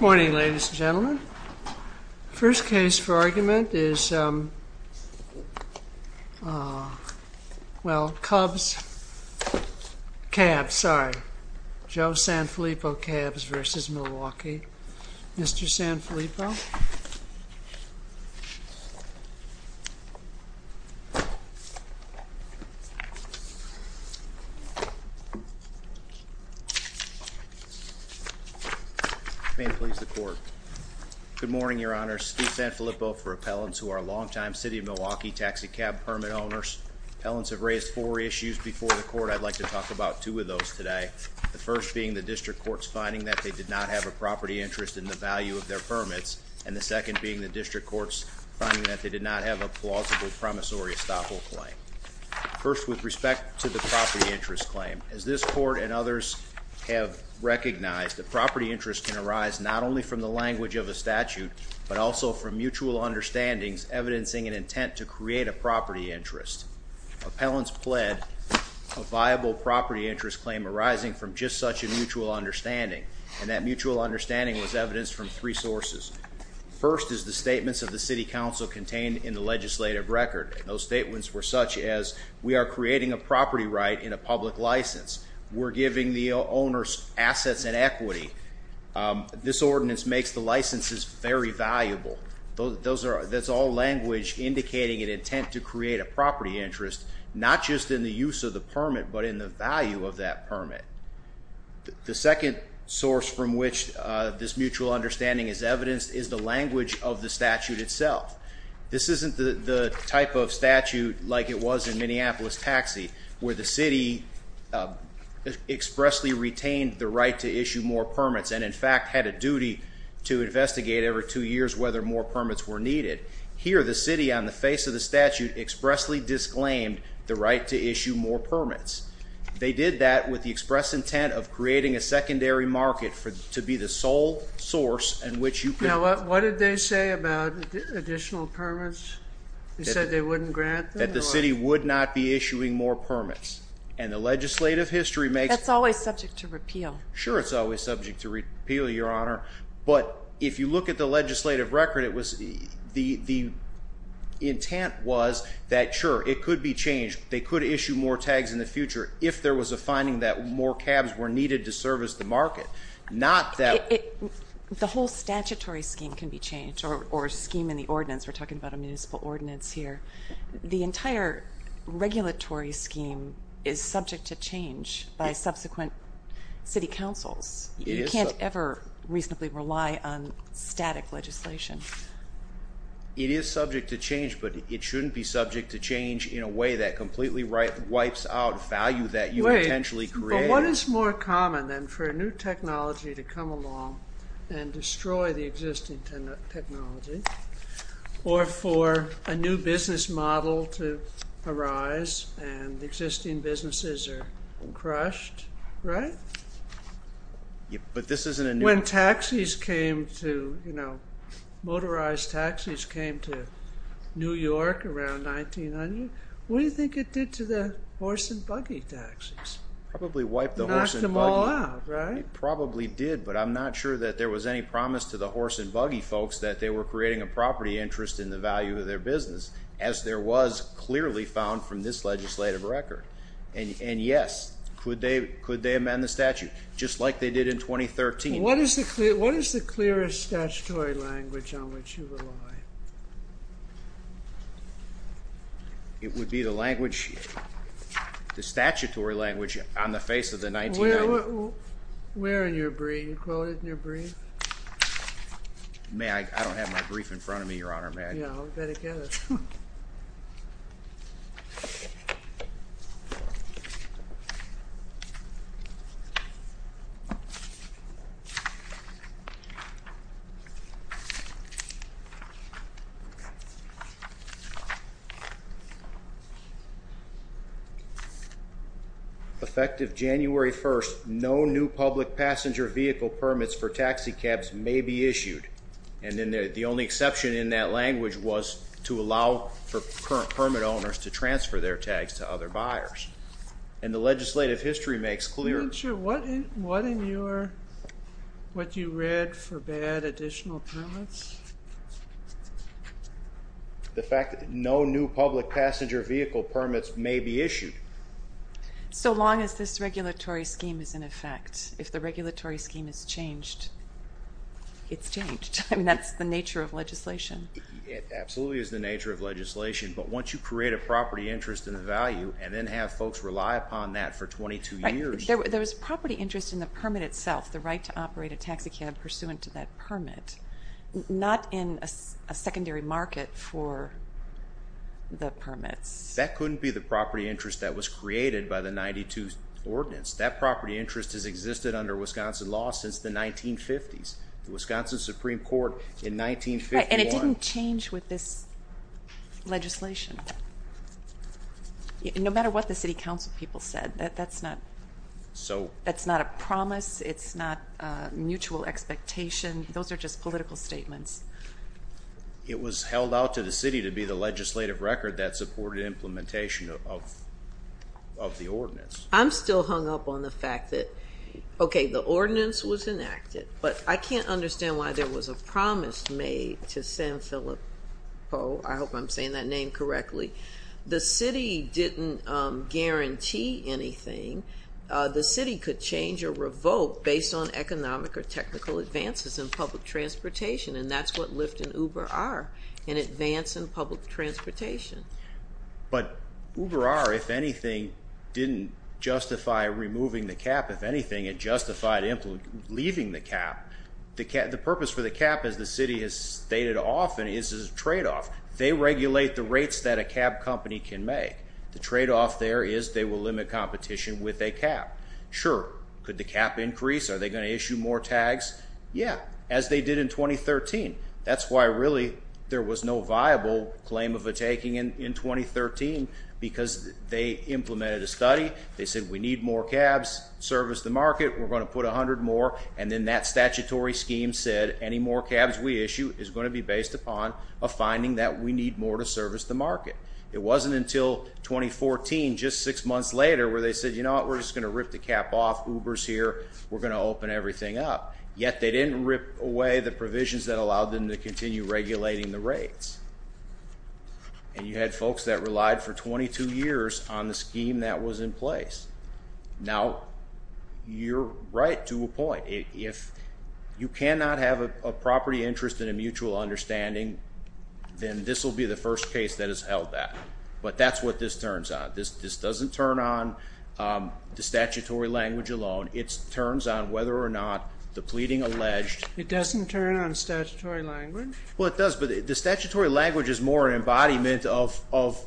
Morning ladies and gentlemen, the first case for argument is Cubs Cabs, Joe Sanfilippo Cabs v. Milwaukee. Mr. Sanfilippo? May it please the court. Good morning, your honors. Steve Sanfilippo for appellants who are long-time City of Milwaukee taxi cab permit owners. Appellants have raised four issues before the court. I'd like to talk about two of those today. The first being the district court's finding that they did not have a property interest in the value of their permits, and the second being the district court's finding that they did not have a plausible promissory estoppel claim. First, with respect to the property interest claim, as this court and others have recognized, the property interest can arise not only from the language of a statute, but also from mutual understandings, evidencing an intent to create a property interest. Appellants pled a viable property interest claim arising from just such a mutual understanding, and that mutual understanding was evidenced from three sources. First is the statements of the City Council contained in the legislative record, and those statements were such as, we are creating a property right in a public license. We're giving the owners assets and equity. This ordinance makes the licenses very valuable. That's all language indicating an intent to create a property interest, not just in the use of the permit, but in the value of that permit. The second source from which this mutual understanding is evidenced is the language of the statute itself. This isn't the type of statute like it was in Minneapolis Taxi, where the city expressly retained the right to issue more permits and, in fact, had a duty to investigate every two years whether more permits were needed. Here, the city, on the face of the statute, expressly disclaimed the right to issue more permits. They did that with the express intent of creating a secondary market to be the sole source in which you could... Now, what did they say about additional permits? They said they wouldn't grant them? That the city would not be issuing more permits, and the legislative history makes... That's always subject to repeal. Sure, it's always subject to repeal, Your Honor, but if you look at the legislative record, the intent was that, sure, it could be changed. They could issue more tags in the future if there was a finding that more cabs were needed to service the market, not that... The whole statutory scheme can be changed, or scheme in the ordinance. We're talking about a municipal ordinance here. The entire regulatory scheme is subject to change by subsequent city councils. You can't ever reasonably rely on static legislation. It is subject to change, but it shouldn't be subject to change in a way that completely wipes out value that you potentially created. Wait, but what is more common than for a new technology to come along and destroy the existing technology, or for a new business model to arise, and existing businesses are crushed, right? But this isn't a new... When taxis came to... Motorized taxis came to New York around 1900. What do you think it did to the horse and buggy taxis? Probably wiped the horse and buggy. Knocked them all out, right? It probably did, but I'm not sure that there was any promise to the horse and buggy folks that they were creating a property interest in the value of their business, as there was clearly found from this legislative record. And yes, could they amend the statute, just like they did in 2013? What is the clearest statutory language on which you rely? It would be the language... The statutory language on the face of the 1990... Where in your brief? You quote it in your brief? May I... I don't have my brief in front of me, Your Honor. I'll bet it does. Effective January 1st, no new public passenger vehicle permits for taxi cabs may be issued. And then the only exception in that language was to allow for permit owners to transfer their tags to other buyers. And the legislative history makes clear... What in your... What you read forbade additional permits? The fact that no new public passenger vehicle permits may be issued. So as long as this regulatory scheme is in effect, if the regulatory scheme is changed, it's changed. I mean, that's the nature of legislation. It absolutely is the nature of legislation, but once you create a property interest in the value and then have folks rely upon that for 22 years... There was property interest in the permit itself, the right to operate a taxi cab pursuant to that permit, not in a secondary market for the permits. That couldn't be the property interest that was created by the 92 Ordinance. That property interest has existed under Wisconsin law since the 1950s. The Wisconsin Supreme Court in 1951... Right, and it didn't change with this legislation. No matter what the city council people said, that's not... So... That's not a promise, it's not a mutual expectation, those are just political statements. It was held out to the city to be the legislative record that supported implementation of the Ordinance. I'm still hung up on the fact that, okay, the Ordinance was enacted, but I can't understand why there was a promise made to San Filippo. I hope I'm saying that name correctly. The city didn't guarantee anything. The city could change or revoke based on economic or technical advances in public transportation, and that's what But UberR, if anything, didn't justify removing the cab. If anything, it justified leaving the cab. The purpose for the cab, as the city has stated often, is a trade-off. They regulate the rates that a cab company can make. The trade-off there is they will limit competition with a cab. Sure, could the cab increase? Are they going to issue more tags? Yeah, as they did in 2013. That's why, really, there was no viable claim of a taking in 2013, because they implemented a study. They said, we need more cabs, service the market, we're going to put 100 more, and then that statutory scheme said, any more cabs we issue is going to be based upon a finding that we need more to service the market. It wasn't until 2014, just six months later, where they said, you know what, we're just going to rip the cap off, Uber's here, we're going to open everything up. Yet, they didn't rip away the provisions that allowed them to continue regulating the rates. And you had folks that relied for 22 years on the scheme that was in place. Now, you're right to a point. If you cannot have a property interest and a mutual understanding, then this will be the first case that has turns on whether or not the pleading alleged... It doesn't turn on statutory language? Well, it does, but the statutory language is more an embodiment of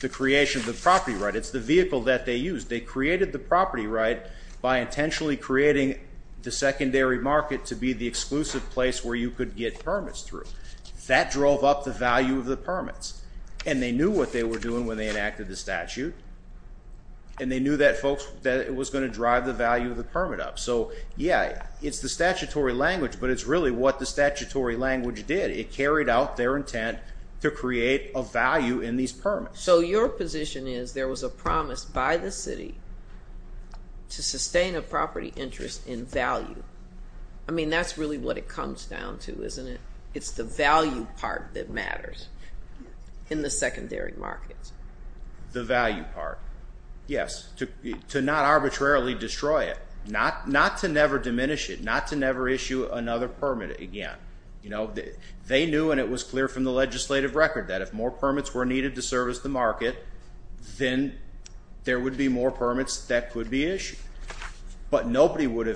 the creation of the property right. It's the vehicle that they used. They created the property right by intentionally creating the secondary market to be the exclusive place where you could get permits through. That drove up the value of the permits. And they knew what they were doing when they enacted the statute, and they knew that it was going to drive the value of the permit up. So yeah, it's the statutory language, but it's really what the statutory language did. It carried out their intent to create a value in these permits. So your position is there was a promise by the city to sustain a property interest in value. I mean, that's really what it comes down to, isn't it? It's the value part that matters in the secondary markets. The value part. Yes. To not arbitrarily destroy it. Not to never diminish it. Not to never issue another permit again. They knew, and it was clear from the legislative record, that if more permits were needed to service the market, then there would be more permits that could be issued. But nobody would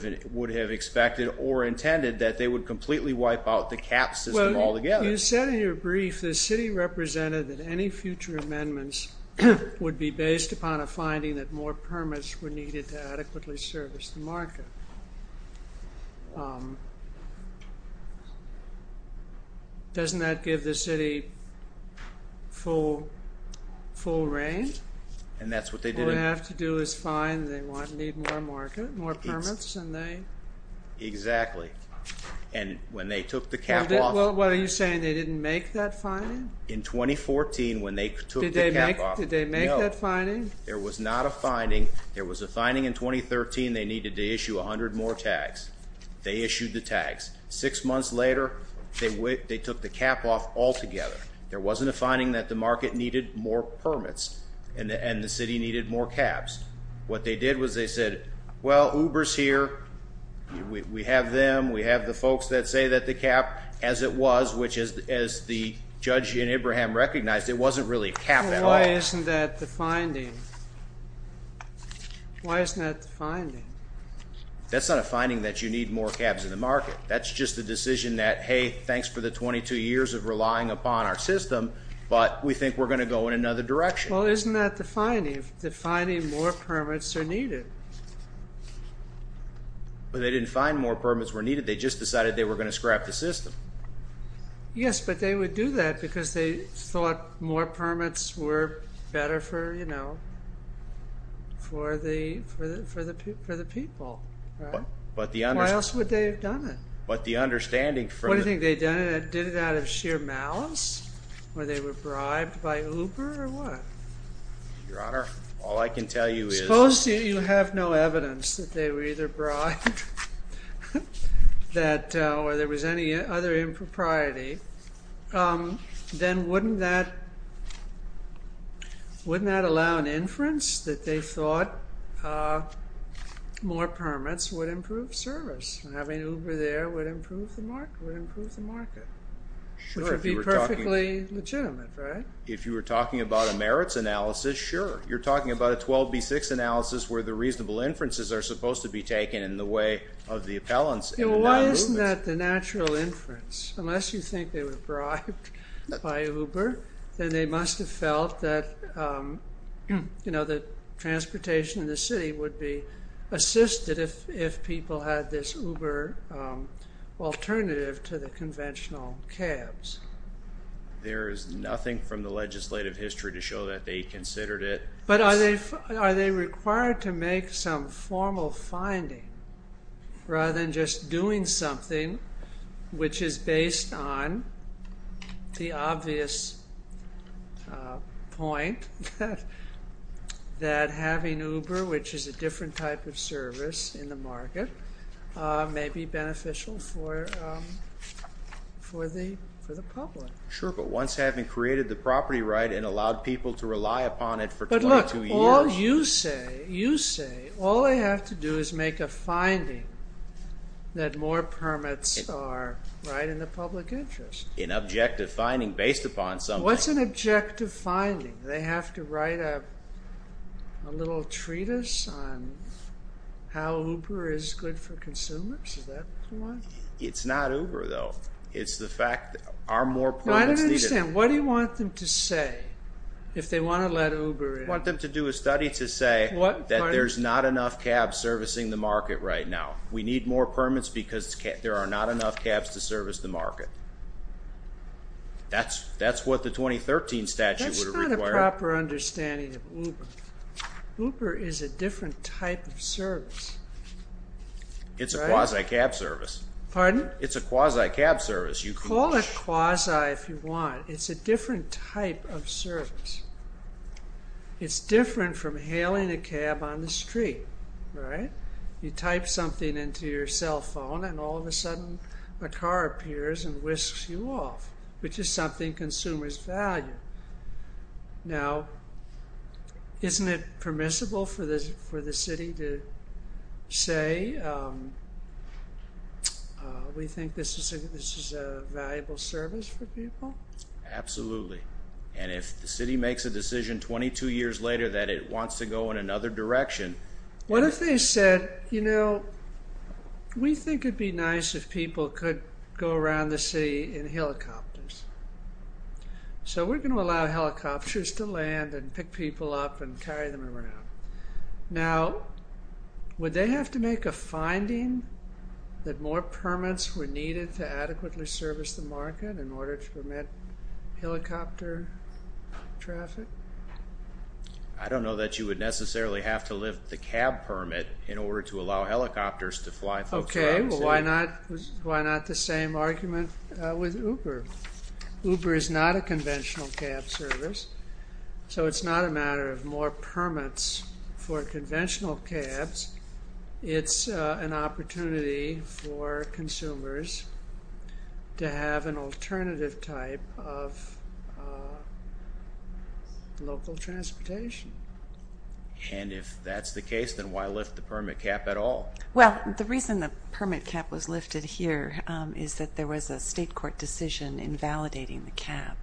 have expected or intended that they would completely wipe out the cap system altogether. Well, you said in your brief, the city represented that any future amendments would be based upon a finding that more permits were needed to adequately service the market. Doesn't that give the city full reign? And that's what they did. All they have to do is find they need more permits and they... Exactly. And when they took the cap off... What are you saying? They didn't make that finding? In 2014, when they took the cap off... Did they make that finding? No. There was not a finding. There was a finding in 2013. They needed to issue 100 more tags. They issued the tags. Six months later, they took the cap off altogether. There wasn't a finding that the market needed more permits and the city needed more caps. What they did was they said, well, Uber's here. We have them. We have the folks that say that the cap, as it was, which is as the judge in Ibrahim recognized, it wasn't really a cap at all. Why isn't that the finding? Why isn't that the finding? That's not a finding that you need more caps in the market. That's just a decision that, hey, thanks for the 22 years of relying upon our system, but we think we're going to go in another direction. Well, isn't that the finding? The finding more permits are needed. But they didn't find more permits were needed. They just decided they were going to scrap the system. Yes, but they would do that because they thought more permits were better for, you know, for the people. Why else would they have done it? But the understanding from- What do you think they'd done it? Did it out of sheer malice or they were bribed by Uber or what? Your Honor, all I can tell you is- Suppose you have no evidence that they were either bribed or there was any other impropriety, then wouldn't that allow an inference that they thought more permits would improve service and having Uber there would improve the market, would improve the market, which would be perfectly legitimate, right? If you were talking about a merits analysis, sure. You're talking about a 12B6 analysis where the reasonable inferences are supposed to be taken in the way of the appellants. Well, why isn't that the natural inference? Unless you think they were bribed by Uber, then they must have felt that, you know, that transportation in the city would be assisted if people had this Uber alternative to the conventional cabs. There is nothing from the legislative history to show that they considered it- But are they required to make some formal finding rather than just doing something which is based on the obvious point that having Uber, which is a different type of service in the market, may be beneficial for the public? Sure, but once having created the property right and allowed people to rely upon it for- But look, all you say, you say, all they have to do is make a finding that more permits are right in the public interest. An objective finding based upon something- What's an objective finding? They have to write a little treatise on how Uber is good for consumers? Is that what you want? It's not Uber, though. It's the fact that are more permits needed- No, I don't understand. What do you want them to say if they want to let Uber in? I want them to do a study to say that there's not enough cabs servicing the market right now. We need more permits because there are not enough cabs to service the market. That's what the 2013 statute would have required. That's not a proper understanding of Uber. Uber is a different type of service. It's a quasi-cab service. Pardon? It's a quasi-cab service. Call it quasi if you want. It's a different type of service. It's different from hailing a cab on the street, right? You type something into your cell phone and all of a sudden a car appears and whisks you off, which is something consumers value. Now, isn't it permissible for the city to say we think this is a valuable service for people? Absolutely. If the city makes a decision 22 years later that it wants to go in another direction- What if they said, we think it'd be nice if people could go around the city in helicopters. We're going to allow helicopters to land and pick people up and carry them around. Now, would they have to make a finding that more permits were needed to adequately service the market in order to permit helicopter traffic? I don't know that you would necessarily have to lift the cab permit in order to allow helicopters to fly- Okay. Why not the same argument with Uber? Uber is not a conventional cab service, so it's not a matter of more permits for conventional cabs. It's an opportunity for local transportation. And if that's the case, then why lift the permit cap at all? Well, the reason the permit cap was lifted here is that there was a state court decision invalidating the cap.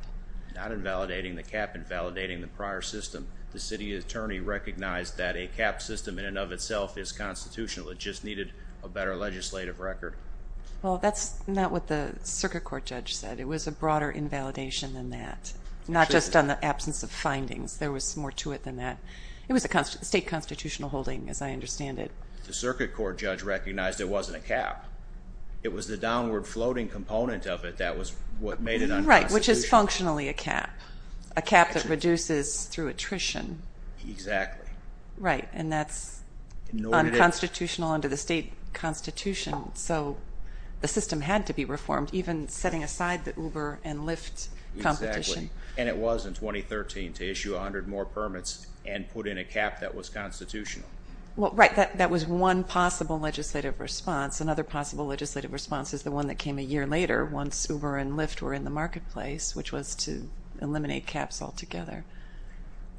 Not invalidating the cap, invalidating the prior system. The city attorney recognized that a cap system in and of itself is constitutional. It just needed a better legislative record. Well, that's not what the circuit court judge said. It was a broader invalidation than that. Not just on the absence of findings. There was more to it than that. It was a state constitutional holding, as I understand it. The circuit court judge recognized it wasn't a cap. It was the downward floating component of it that was what made it unconstitutional. Right, which is functionally a cap. A cap that reduces through attrition. Exactly. Right, and that's unconstitutional under the state constitution, so the system had to be reformed, even setting aside the Uber and Lyft competition. Exactly, and it was in 2013 to issue 100 more permits and put in a cap that was constitutional. Well, right, that was one possible legislative response. Another possible legislative response is the one that came a year later once Uber and Lyft were in the marketplace, which was to eliminate caps altogether.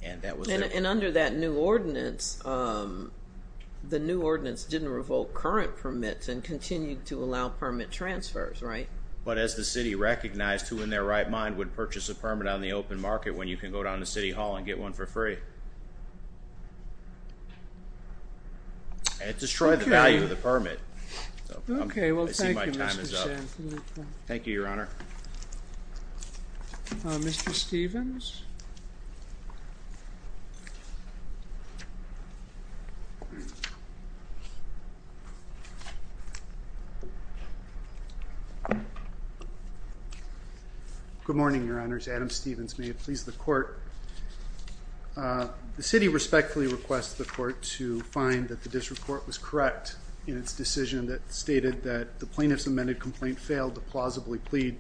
And under that new ordinance, the new ordinance didn't revoke current permits and continue to allow permit transfers, right? But as the city recognized who in their right mind would purchase a permit on the open market when you can go down to city hall and get one for free. It destroyed the value of the permit. Okay, well, thank you, Mr. Champ. Thank you, Your Honor. Mr. Stevens. Good morning, Your Honors. Adam Stevens, may it please the court. The city respectfully requests the court to find that the district court was correct in its decision that stated that the plaintiff's amended complaint failed to plausibly plead,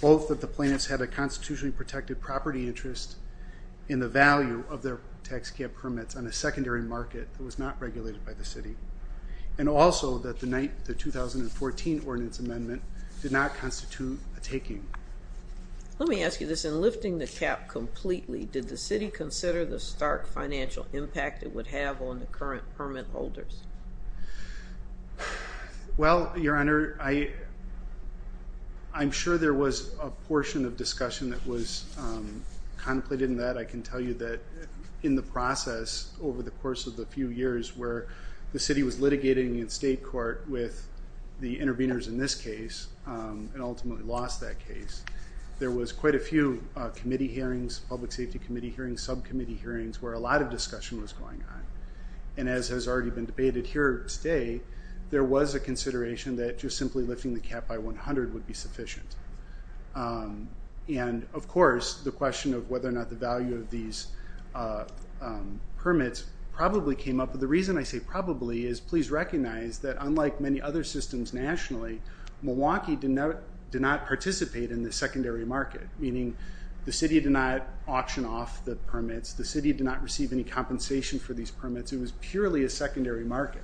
both that the plaintiffs had a constitutionally protected property interest in the value of their tax cap permits on a secondary market that was not regulated by the city, and also that the 2014 ordinance amendment did not constitute a taking. Let me ask you this, in lifting the cap completely, did the city consider the stark financial impact it would have on the current permit holders? Well, Your Honor, I'm sure there was a portion of discussion that was contemplated in that. I can tell you that in the process over the course of the few years where the city was litigating in state court with the interveners in this case and ultimately lost that case, there was quite a few committee hearings, public safety committee hearings, subcommittee hearings, where a lot of discussion was going on. And as has already been debated here today, there was a consideration that just simply lifting the cap by 100 would be sufficient. And of course, the question of whether or not the value of these permits probably came up. The reason I say probably is please recognize that unlike many other systems nationally, Milwaukee did not participate in the secondary market, meaning the city did not auction off the permits, the city did not receive any compensation for these permits, it was purely a secondary market.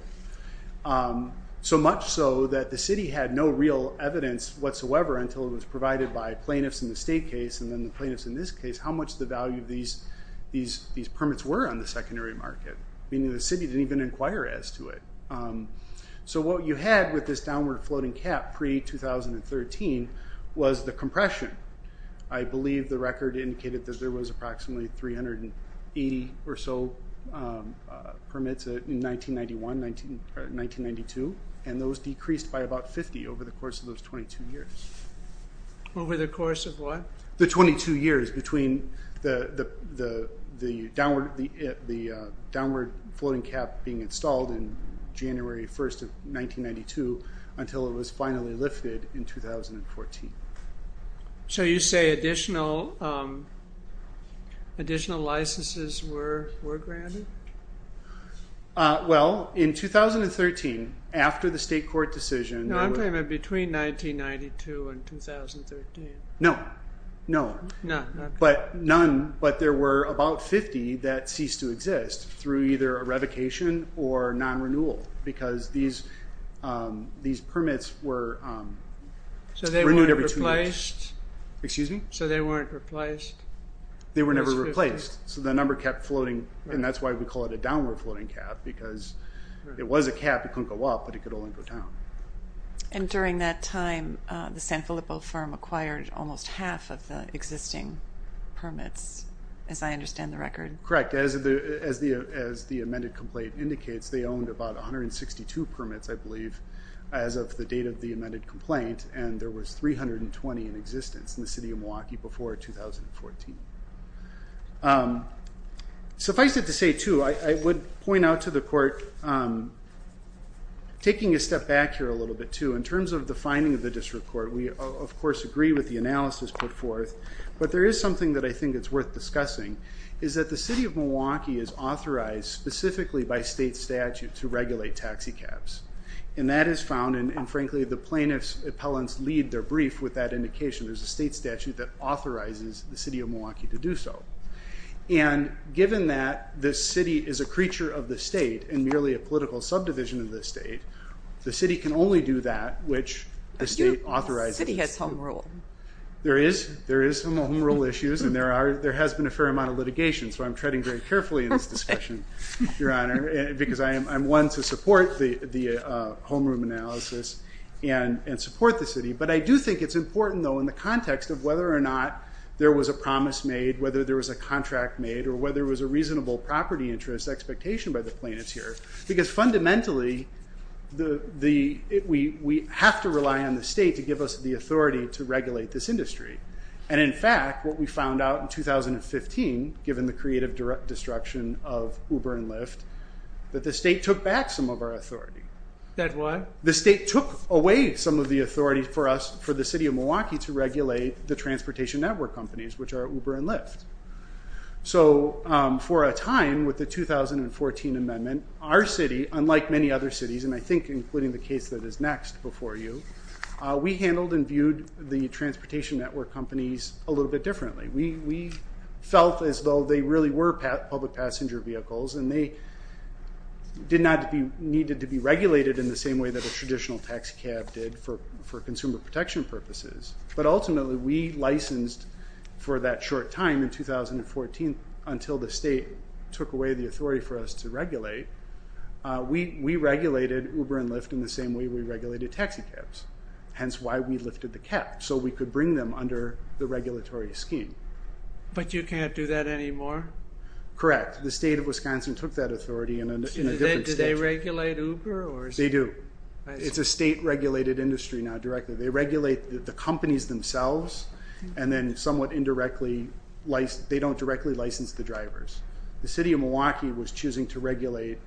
So much so that the city had no real evidence whatsoever until it was provided by plaintiffs in the state case and then the plaintiffs in this case, how much the value of these permits were on the secondary market, meaning the city didn't even inquire as to it. So what you had with this downward floating cap pre-2013 was the compression. I believe the record indicated that there was approximately 380 or so permits in 1991, 1992, and those decreased by about 50 over the course of those 22 years. Over the course of what? The 22 years between the downward floating cap being installed in January 1st of 1992 until it was additional licenses were granted? Well, in 2013, after the state court decision... No, I'm talking about between 1992 and 2013. No, no. But none, but there were about 50 that ceased to exist through either a revocation or non-renewal because these permits were... So they weren't replaced? Excuse me? So they weren't replaced? They were never replaced. So the number kept floating and that's why we call it a downward floating cap because it was a cap, it couldn't go up, but it could only go down. And during that time, the San Filippo firm acquired almost half of the existing permits, as I understand the record. Correct. As the amended complaint indicates, they owned about 162 permits, I believe, as of the date of the amended complaint and there was 320 in existence in the city of Milwaukee before 2014. Suffice it to say too, I would point out to the court, taking a step back here a little bit too, in terms of the finding of the district court, we of course agree with the analysis put forth, but there is something that I think it's worth discussing, is that the city of Milwaukee is authorized specifically by state statute to regulate taxi cabs. And that is found, and frankly the plaintiff's appellants lead their brief with that indication, there's a state statute that authorizes the city of Milwaukee to do so. And given that the city is a creature of the state and merely a political subdivision of the state, the city can only do that which the state authorizes. The city has home rule. There is some home rule issues and there has been a fair amount of litigation, so I'm treading very carefully in this discussion, your honor, because I'm one to support the homeroom analysis and support the city, but I do think it's important though in the context of whether or not there was a promise made, whether there was a contract made, or whether there was a reasonable property interest expectation by the plaintiffs here, because fundamentally we have to rely on the state to give us the authority to regulate the transportation network companies, which are Uber and Lyft. So for a time, with the 2014 amendment, our city, unlike many other cities, and I think including the case that is next before you, we handled and viewed the transportation network companies a little bit differently. We felt as though they really were public passenger vehicles and they did not need to be regulated in the same way that a traditional taxi cab did for consumer protection purposes, but ultimately we licensed for that short time in 2014 until the state took away the authority for us to regulate. We regulated Uber and Lyft in the same way we regulated taxi cabs, hence why we lifted the cap, so we could bring them under the regulatory scheme. But you can't do that anymore? Correct. The state of Wisconsin took that authority in a different state. Do they regulate Uber? They do. It's a state regulated industry now directly. They regulate the companies themselves and then somewhat indirectly, they don't directly license the drivers. The city of Milwaukee was choosing to regulate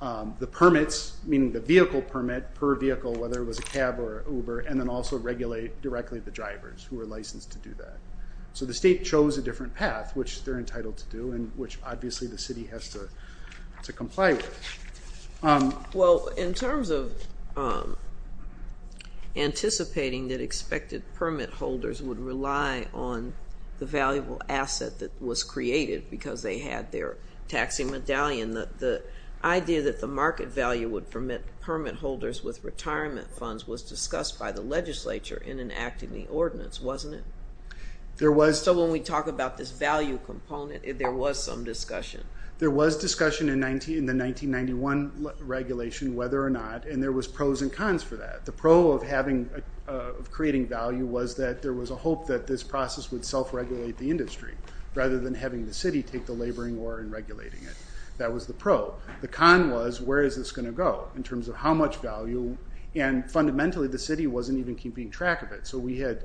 the permits, meaning the vehicle permit per vehicle, whether it was a cab or Uber, and then also regulate directly the drivers who are licensed to do that. So the state chose a different path, which they're entitled to do and which obviously the city has to comply with. Well, in terms of anticipating that expected permit holders would rely on the valuable asset that was created because they had their taxi medallion, the idea that the market value would permit permit holders with retirement funds was discussed by the legislature in enacting the ordinance, wasn't it? So when we talk about this value component, there was some discussion. There was discussion in the 1991 regulation whether or not, and there was pros and cons for that. The pro of creating value was that there was a hope that this process would self-regulate the industry rather than having the city take the laboring war and regulating it. That was the pro. The con was where is this going to go in terms of how much value, and fundamentally the city wasn't even keeping track of it. So we had,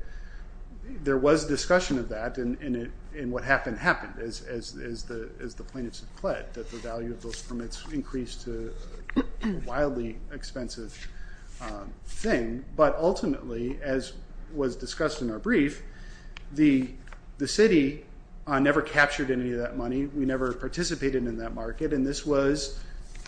there was discussion of that and what happened happened as the plaintiffs have pled that the value of those permits increased to a wildly expensive thing. But ultimately, as was discussed in our brief, the city never captured any of that money. We never participated in that market, and this was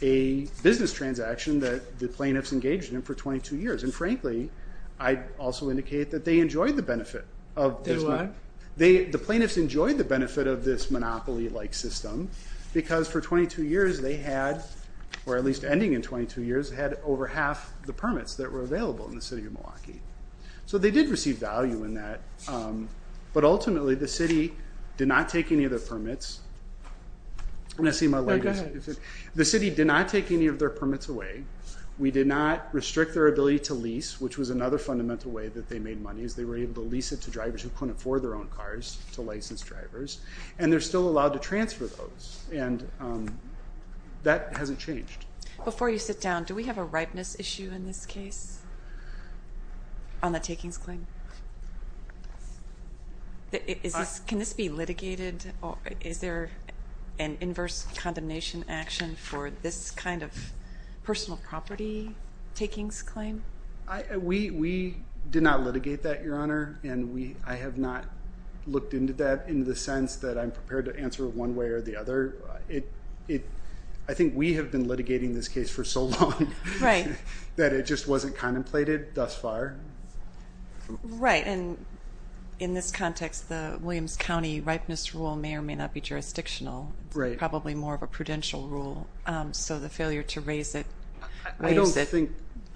a business transaction that the plaintiffs engaged in for 22 years. And frankly, I'd also indicate that they enjoyed the benefit of this. They what? The plaintiffs enjoyed the benefit of this monopoly-like system because for 22 years they had, or at least ending in 22 years, had over half the permits that were available in the city of Milwaukee. So they did receive value in that, but ultimately the city did not take any of their permits. I'm going to see my light. The city did not take any of their permits away. We did not restrict their ability to lease, which was another fundamental way that they made money, is they were able to lease it to drivers who couldn't afford their own cars, to licensed drivers, and they're still allowed to transfer those, and that hasn't changed. Before you sit down, do we have a ripeness issue in this case on the takings claim? Can this be litigated, or is there an inverse condemnation action for this kind of personal property takings claim? We did not litigate that, Your Honor, and I have not looked into that in the sense that I'm prepared to answer one way or the other. I think we have been litigating this case for so long that it just wasn't contemplated thus far. Right, and in this context, the Williams County ripeness rule may or may not be jurisdictional. It's probably more of a prudential rule, so the failure to raise it... I don't think...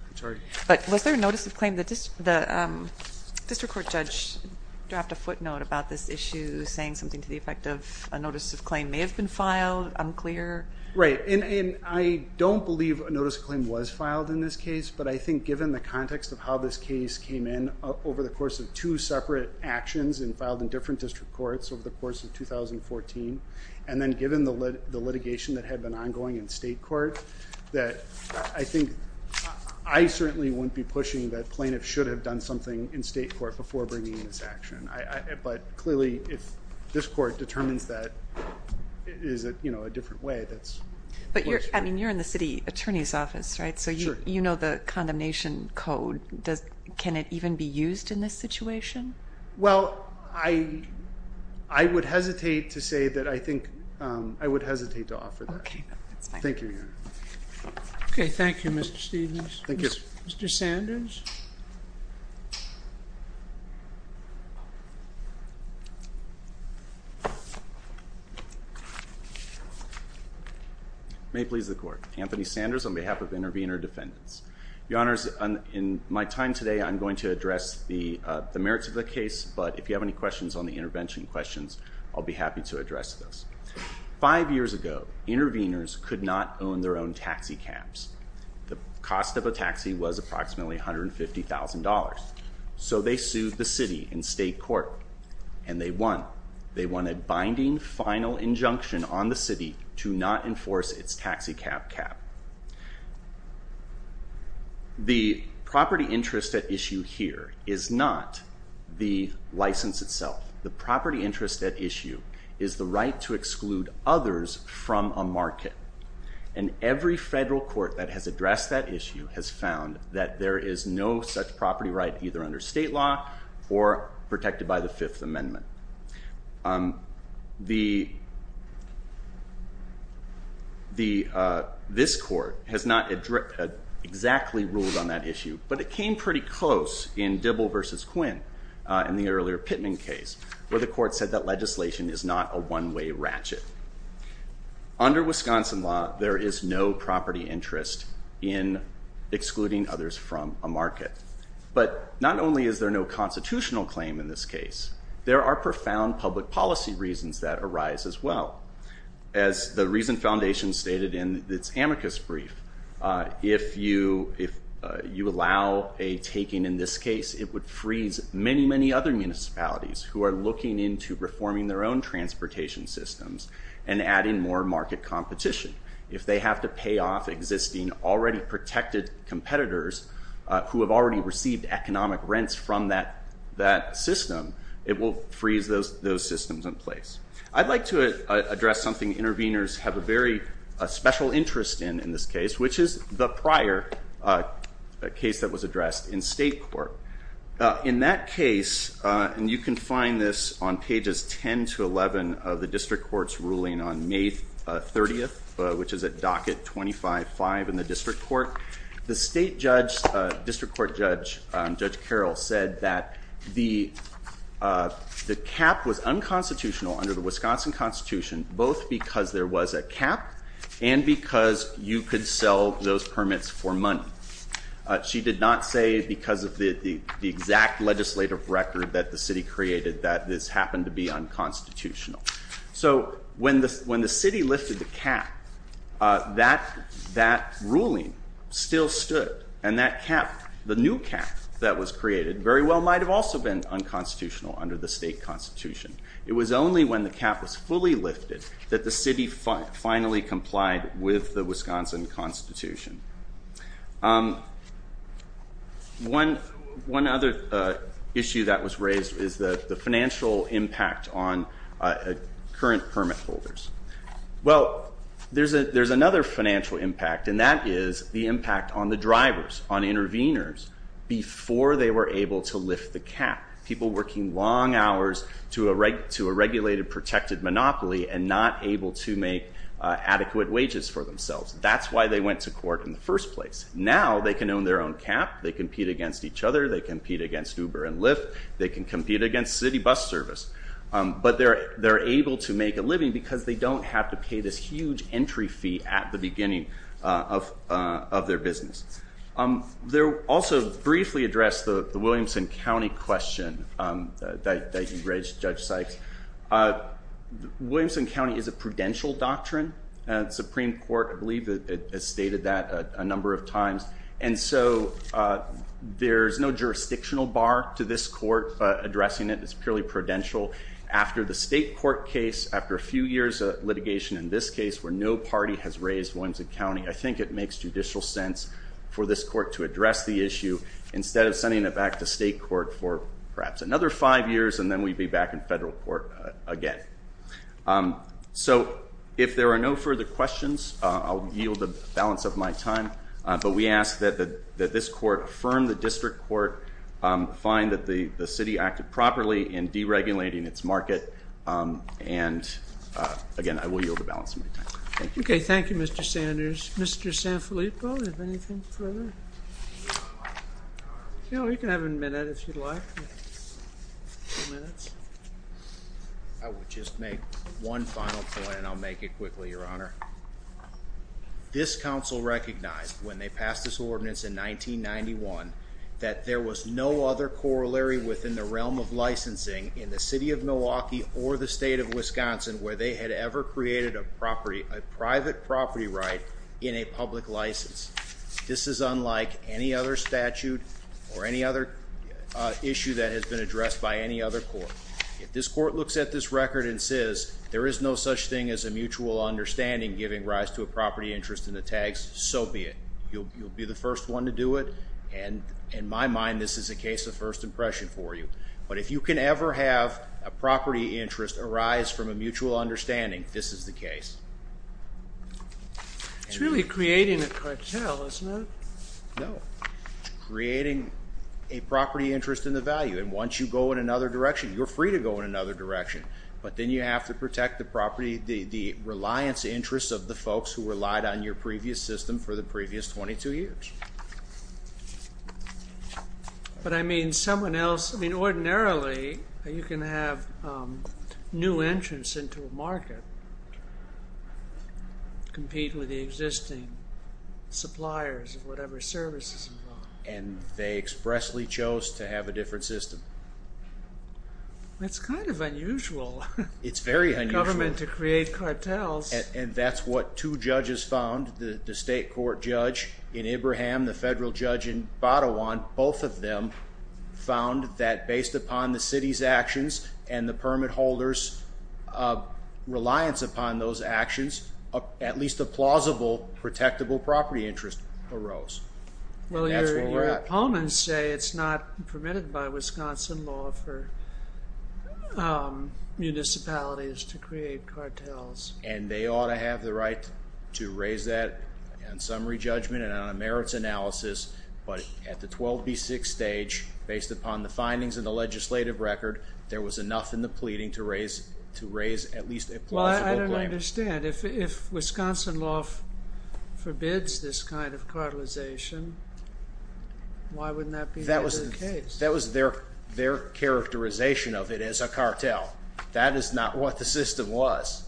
I'm sorry. But was there a notice of claim? The district court judge dropped a footnote about this issue saying something to effect of a notice of claim may have been filed, unclear. Right, and I don't believe a notice of claim was filed in this case, but I think given the context of how this case came in over the course of two separate actions and filed in different district courts over the course of 2014, and then given the litigation that had been ongoing in state court, that I think I certainly wouldn't be pushing that plaintiffs should have done something in state court before bringing this action. But clearly, if this court determines that it is, you know, a different way, that's... But you're... I mean, you're in the city attorney's office, right? So you know the condemnation code. Does... Can it even be used in this situation? Well, I would hesitate to say that I think... I would hesitate to offer that. Okay, that's fine. Thank you, Your Honor. Okay, thank you, Mr. Stevens. Thank you, Mr. Sanders. May it please the Court. Anthony Sanders on behalf of intervener defendants. Your Honors, in my time today, I'm going to address the merits of the case, but if you have any questions on the intervention questions, I'll be happy to address those. Five years ago, interveners could not own their own taxicabs. The cost of a taxi was approximately $150,000. So they sued the city in state court and they won. They won a binding final injunction on the city to not enforce its taxicab cap. The property interest at issue here is not the license itself. The property interest at issue is the right to exclude others from a market, and every federal court that has addressed that issue has found that there is no such property right either under state law or protected by the Fifth Amendment. This court has not exactly ruled on that issue, but it came pretty close in not a one-way ratchet. Under Wisconsin law, there is no property interest in excluding others from a market, but not only is there no constitutional claim in this case, there are profound public policy reasons that arise as well. As the Reason Foundation stated in its amicus brief, if you allow a taking in this case, it would freeze many, many other municipalities who are looking into reforming their own transportation systems and adding more market competition. If they have to pay off existing already protected competitors who have already received economic rents from that system, it will freeze those systems in place. I'd like to address something interveners have a very special interest in in this case, which is the prior case that was addressed in state court. In that case, and you can find this on pages 10 to 11 of the district court's ruling on May 30th, which is at docket 25-5 in the district court, the state judge, district court judge, Judge Carroll said that the cap was unconstitutional under the Wisconsin Constitution, both because there was a money. She did not say because of the exact legislative record that the city created that this happened to be unconstitutional. So when the city lifted the cap, that ruling still stood, and that cap, the new cap that was created very well might have also been unconstitutional under the state constitution. It was only when the cap was fully lifted that the city finally complied with the Wisconsin Constitution. One other issue that was raised is the financial impact on current permit holders. Well, there's another financial impact, and that is the impact on the drivers, on interveners, before they were able to lift the cap. People working long hours to a protected monopoly and not able to make adequate wages for themselves. That's why they went to court in the first place. Now they can own their own cap. They compete against each other. They compete against Uber and Lyft. They can compete against city bus service, but they're able to make a living because they don't have to pay this huge entry fee at the beginning of their business. They also briefly addressed the Williamson County question that you raised, Judge Sykes. Williamson County is a prudential doctrine. The Supreme Court, I believe, has stated that a number of times. And so there's no jurisdictional bar to this court addressing it. It's purely prudential. After the state court case, after a few years of litigation in this case where no party has raised Williamson County, I think it makes judicial sense for this court to address the issue instead of sending it back to state court for perhaps another five years, and then we'd be back in federal court again. So if there are no further questions, I'll yield the balance of my time. But we ask that this court affirm the district court, find that the city acted properly in deregulating its market, and again, I will yield the balance of my time. Thank you. Okay. Thank you, Mr. Sanders. Mr. Sanfilippo, if anything further? You know, you can have a minute if you'd like. I would just make one final point, and I'll make it quickly, Your Honor. This council recognized when they passed this ordinance in 1991 that there was no other corollary within the realm of licensing in the city of Milwaukee or the state of Wisconsin where they had ever created a private property right in a public license. This is unlike any other statute or any other issue that has been addressed by any other court. If this court looks at this record and says there is no such thing as a mutual understanding giving rise to a property interest in the tags, so be it. You'll be the first one to do it, and in my mind, this is a case of first impression for you, but if you can ever have a property interest arise from a mutual understanding, this is the case. It's really creating a cartel, isn't it? No. It's creating a property interest in the value, and once you go in another direction, you're free to go in another direction, but then you have to protect the property, the reliance interests of the folks who relied on your previous system for the previous 22 years. But, I mean, someone else, I mean, ordinarily you can have new entrants into a market compete with the existing suppliers of whatever service is involved. And they expressly chose to have a different system. That's kind of unusual. It's very unusual. Government to create cartels. And that's what two judges found, the state court judge in Ibrahim, the federal judge in Batawan, both of them found that based upon the city's actions and the permit holders' reliance upon those actions, at least a plausible, protectable property interest arose. Well, your opponents say it's not permitted by Wisconsin law for municipalities to create cartels. And they ought to have the right to raise that on summary judgment and on a merits analysis, but at the 12B6 stage, based upon the findings in the legislative record, there was enough in the pleading to raise at least a plausible claim. I don't understand. If Wisconsin law forbids this kind of cartelization, why wouldn't that be part of the case? That was their characterization of it as a cartel. That is not what the system was.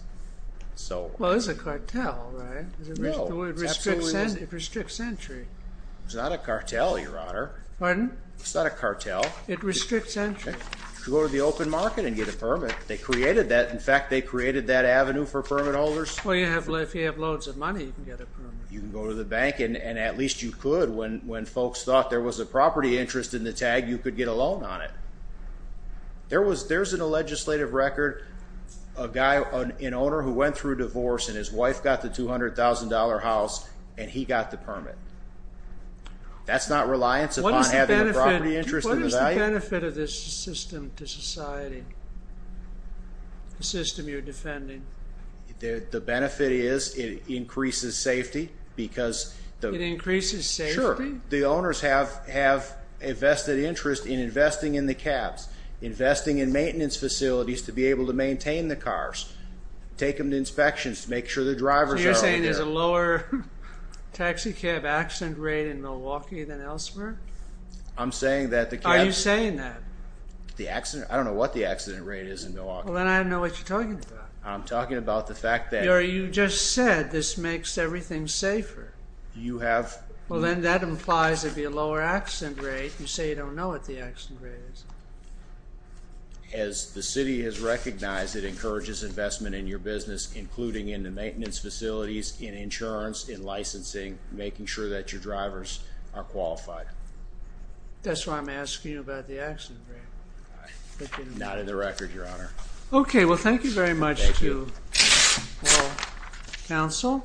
Well, it's a cartel, right? The word restricts entry. It's not a cartel, Your Honor. Pardon? It's not a cartel. It restricts entry. You can go to the open market and get a permit. They created that. In fact, they created that avenue for permit holders. Well, if you have loads of money, you can get a permit. You can go to the bank, and at least you could when folks thought there was a property interest in the tag, you could get a loan on it. There's in a legislative record a guy, an owner who went through a divorce, and his wife got the $200,000 house, and he got the permit. That's not reliance upon having a property interest in the value? What is the benefit of this system to society? The system you're defending? The benefit is it increases safety because... It increases safety? Sure. The owners have a vested interest in investing in the cabs, investing in maintenance facilities to be able to maintain the cars, take them to inspections to make sure the drivers are over there. Are you saying there's a lower taxi cab accident rate in Milwaukee than elsewhere? I'm saying that the cabs... Are you saying that? I don't know what the accident rate is in Milwaukee. Well, then I don't know what you're talking about. I'm talking about the fact that... You just said this makes everything safer. You have... Well, then that implies there'd be a lower accident rate. You say you don't know what the accident rate is. As the city has recognized, it encourages investment in your business, including in the maintenance facilities, in insurance, in licensing, making sure that your drivers are qualified. That's why I'm asking you about the accident rate. Not in the record, Your Honor. Okay. Well, thank you very much to the whole council.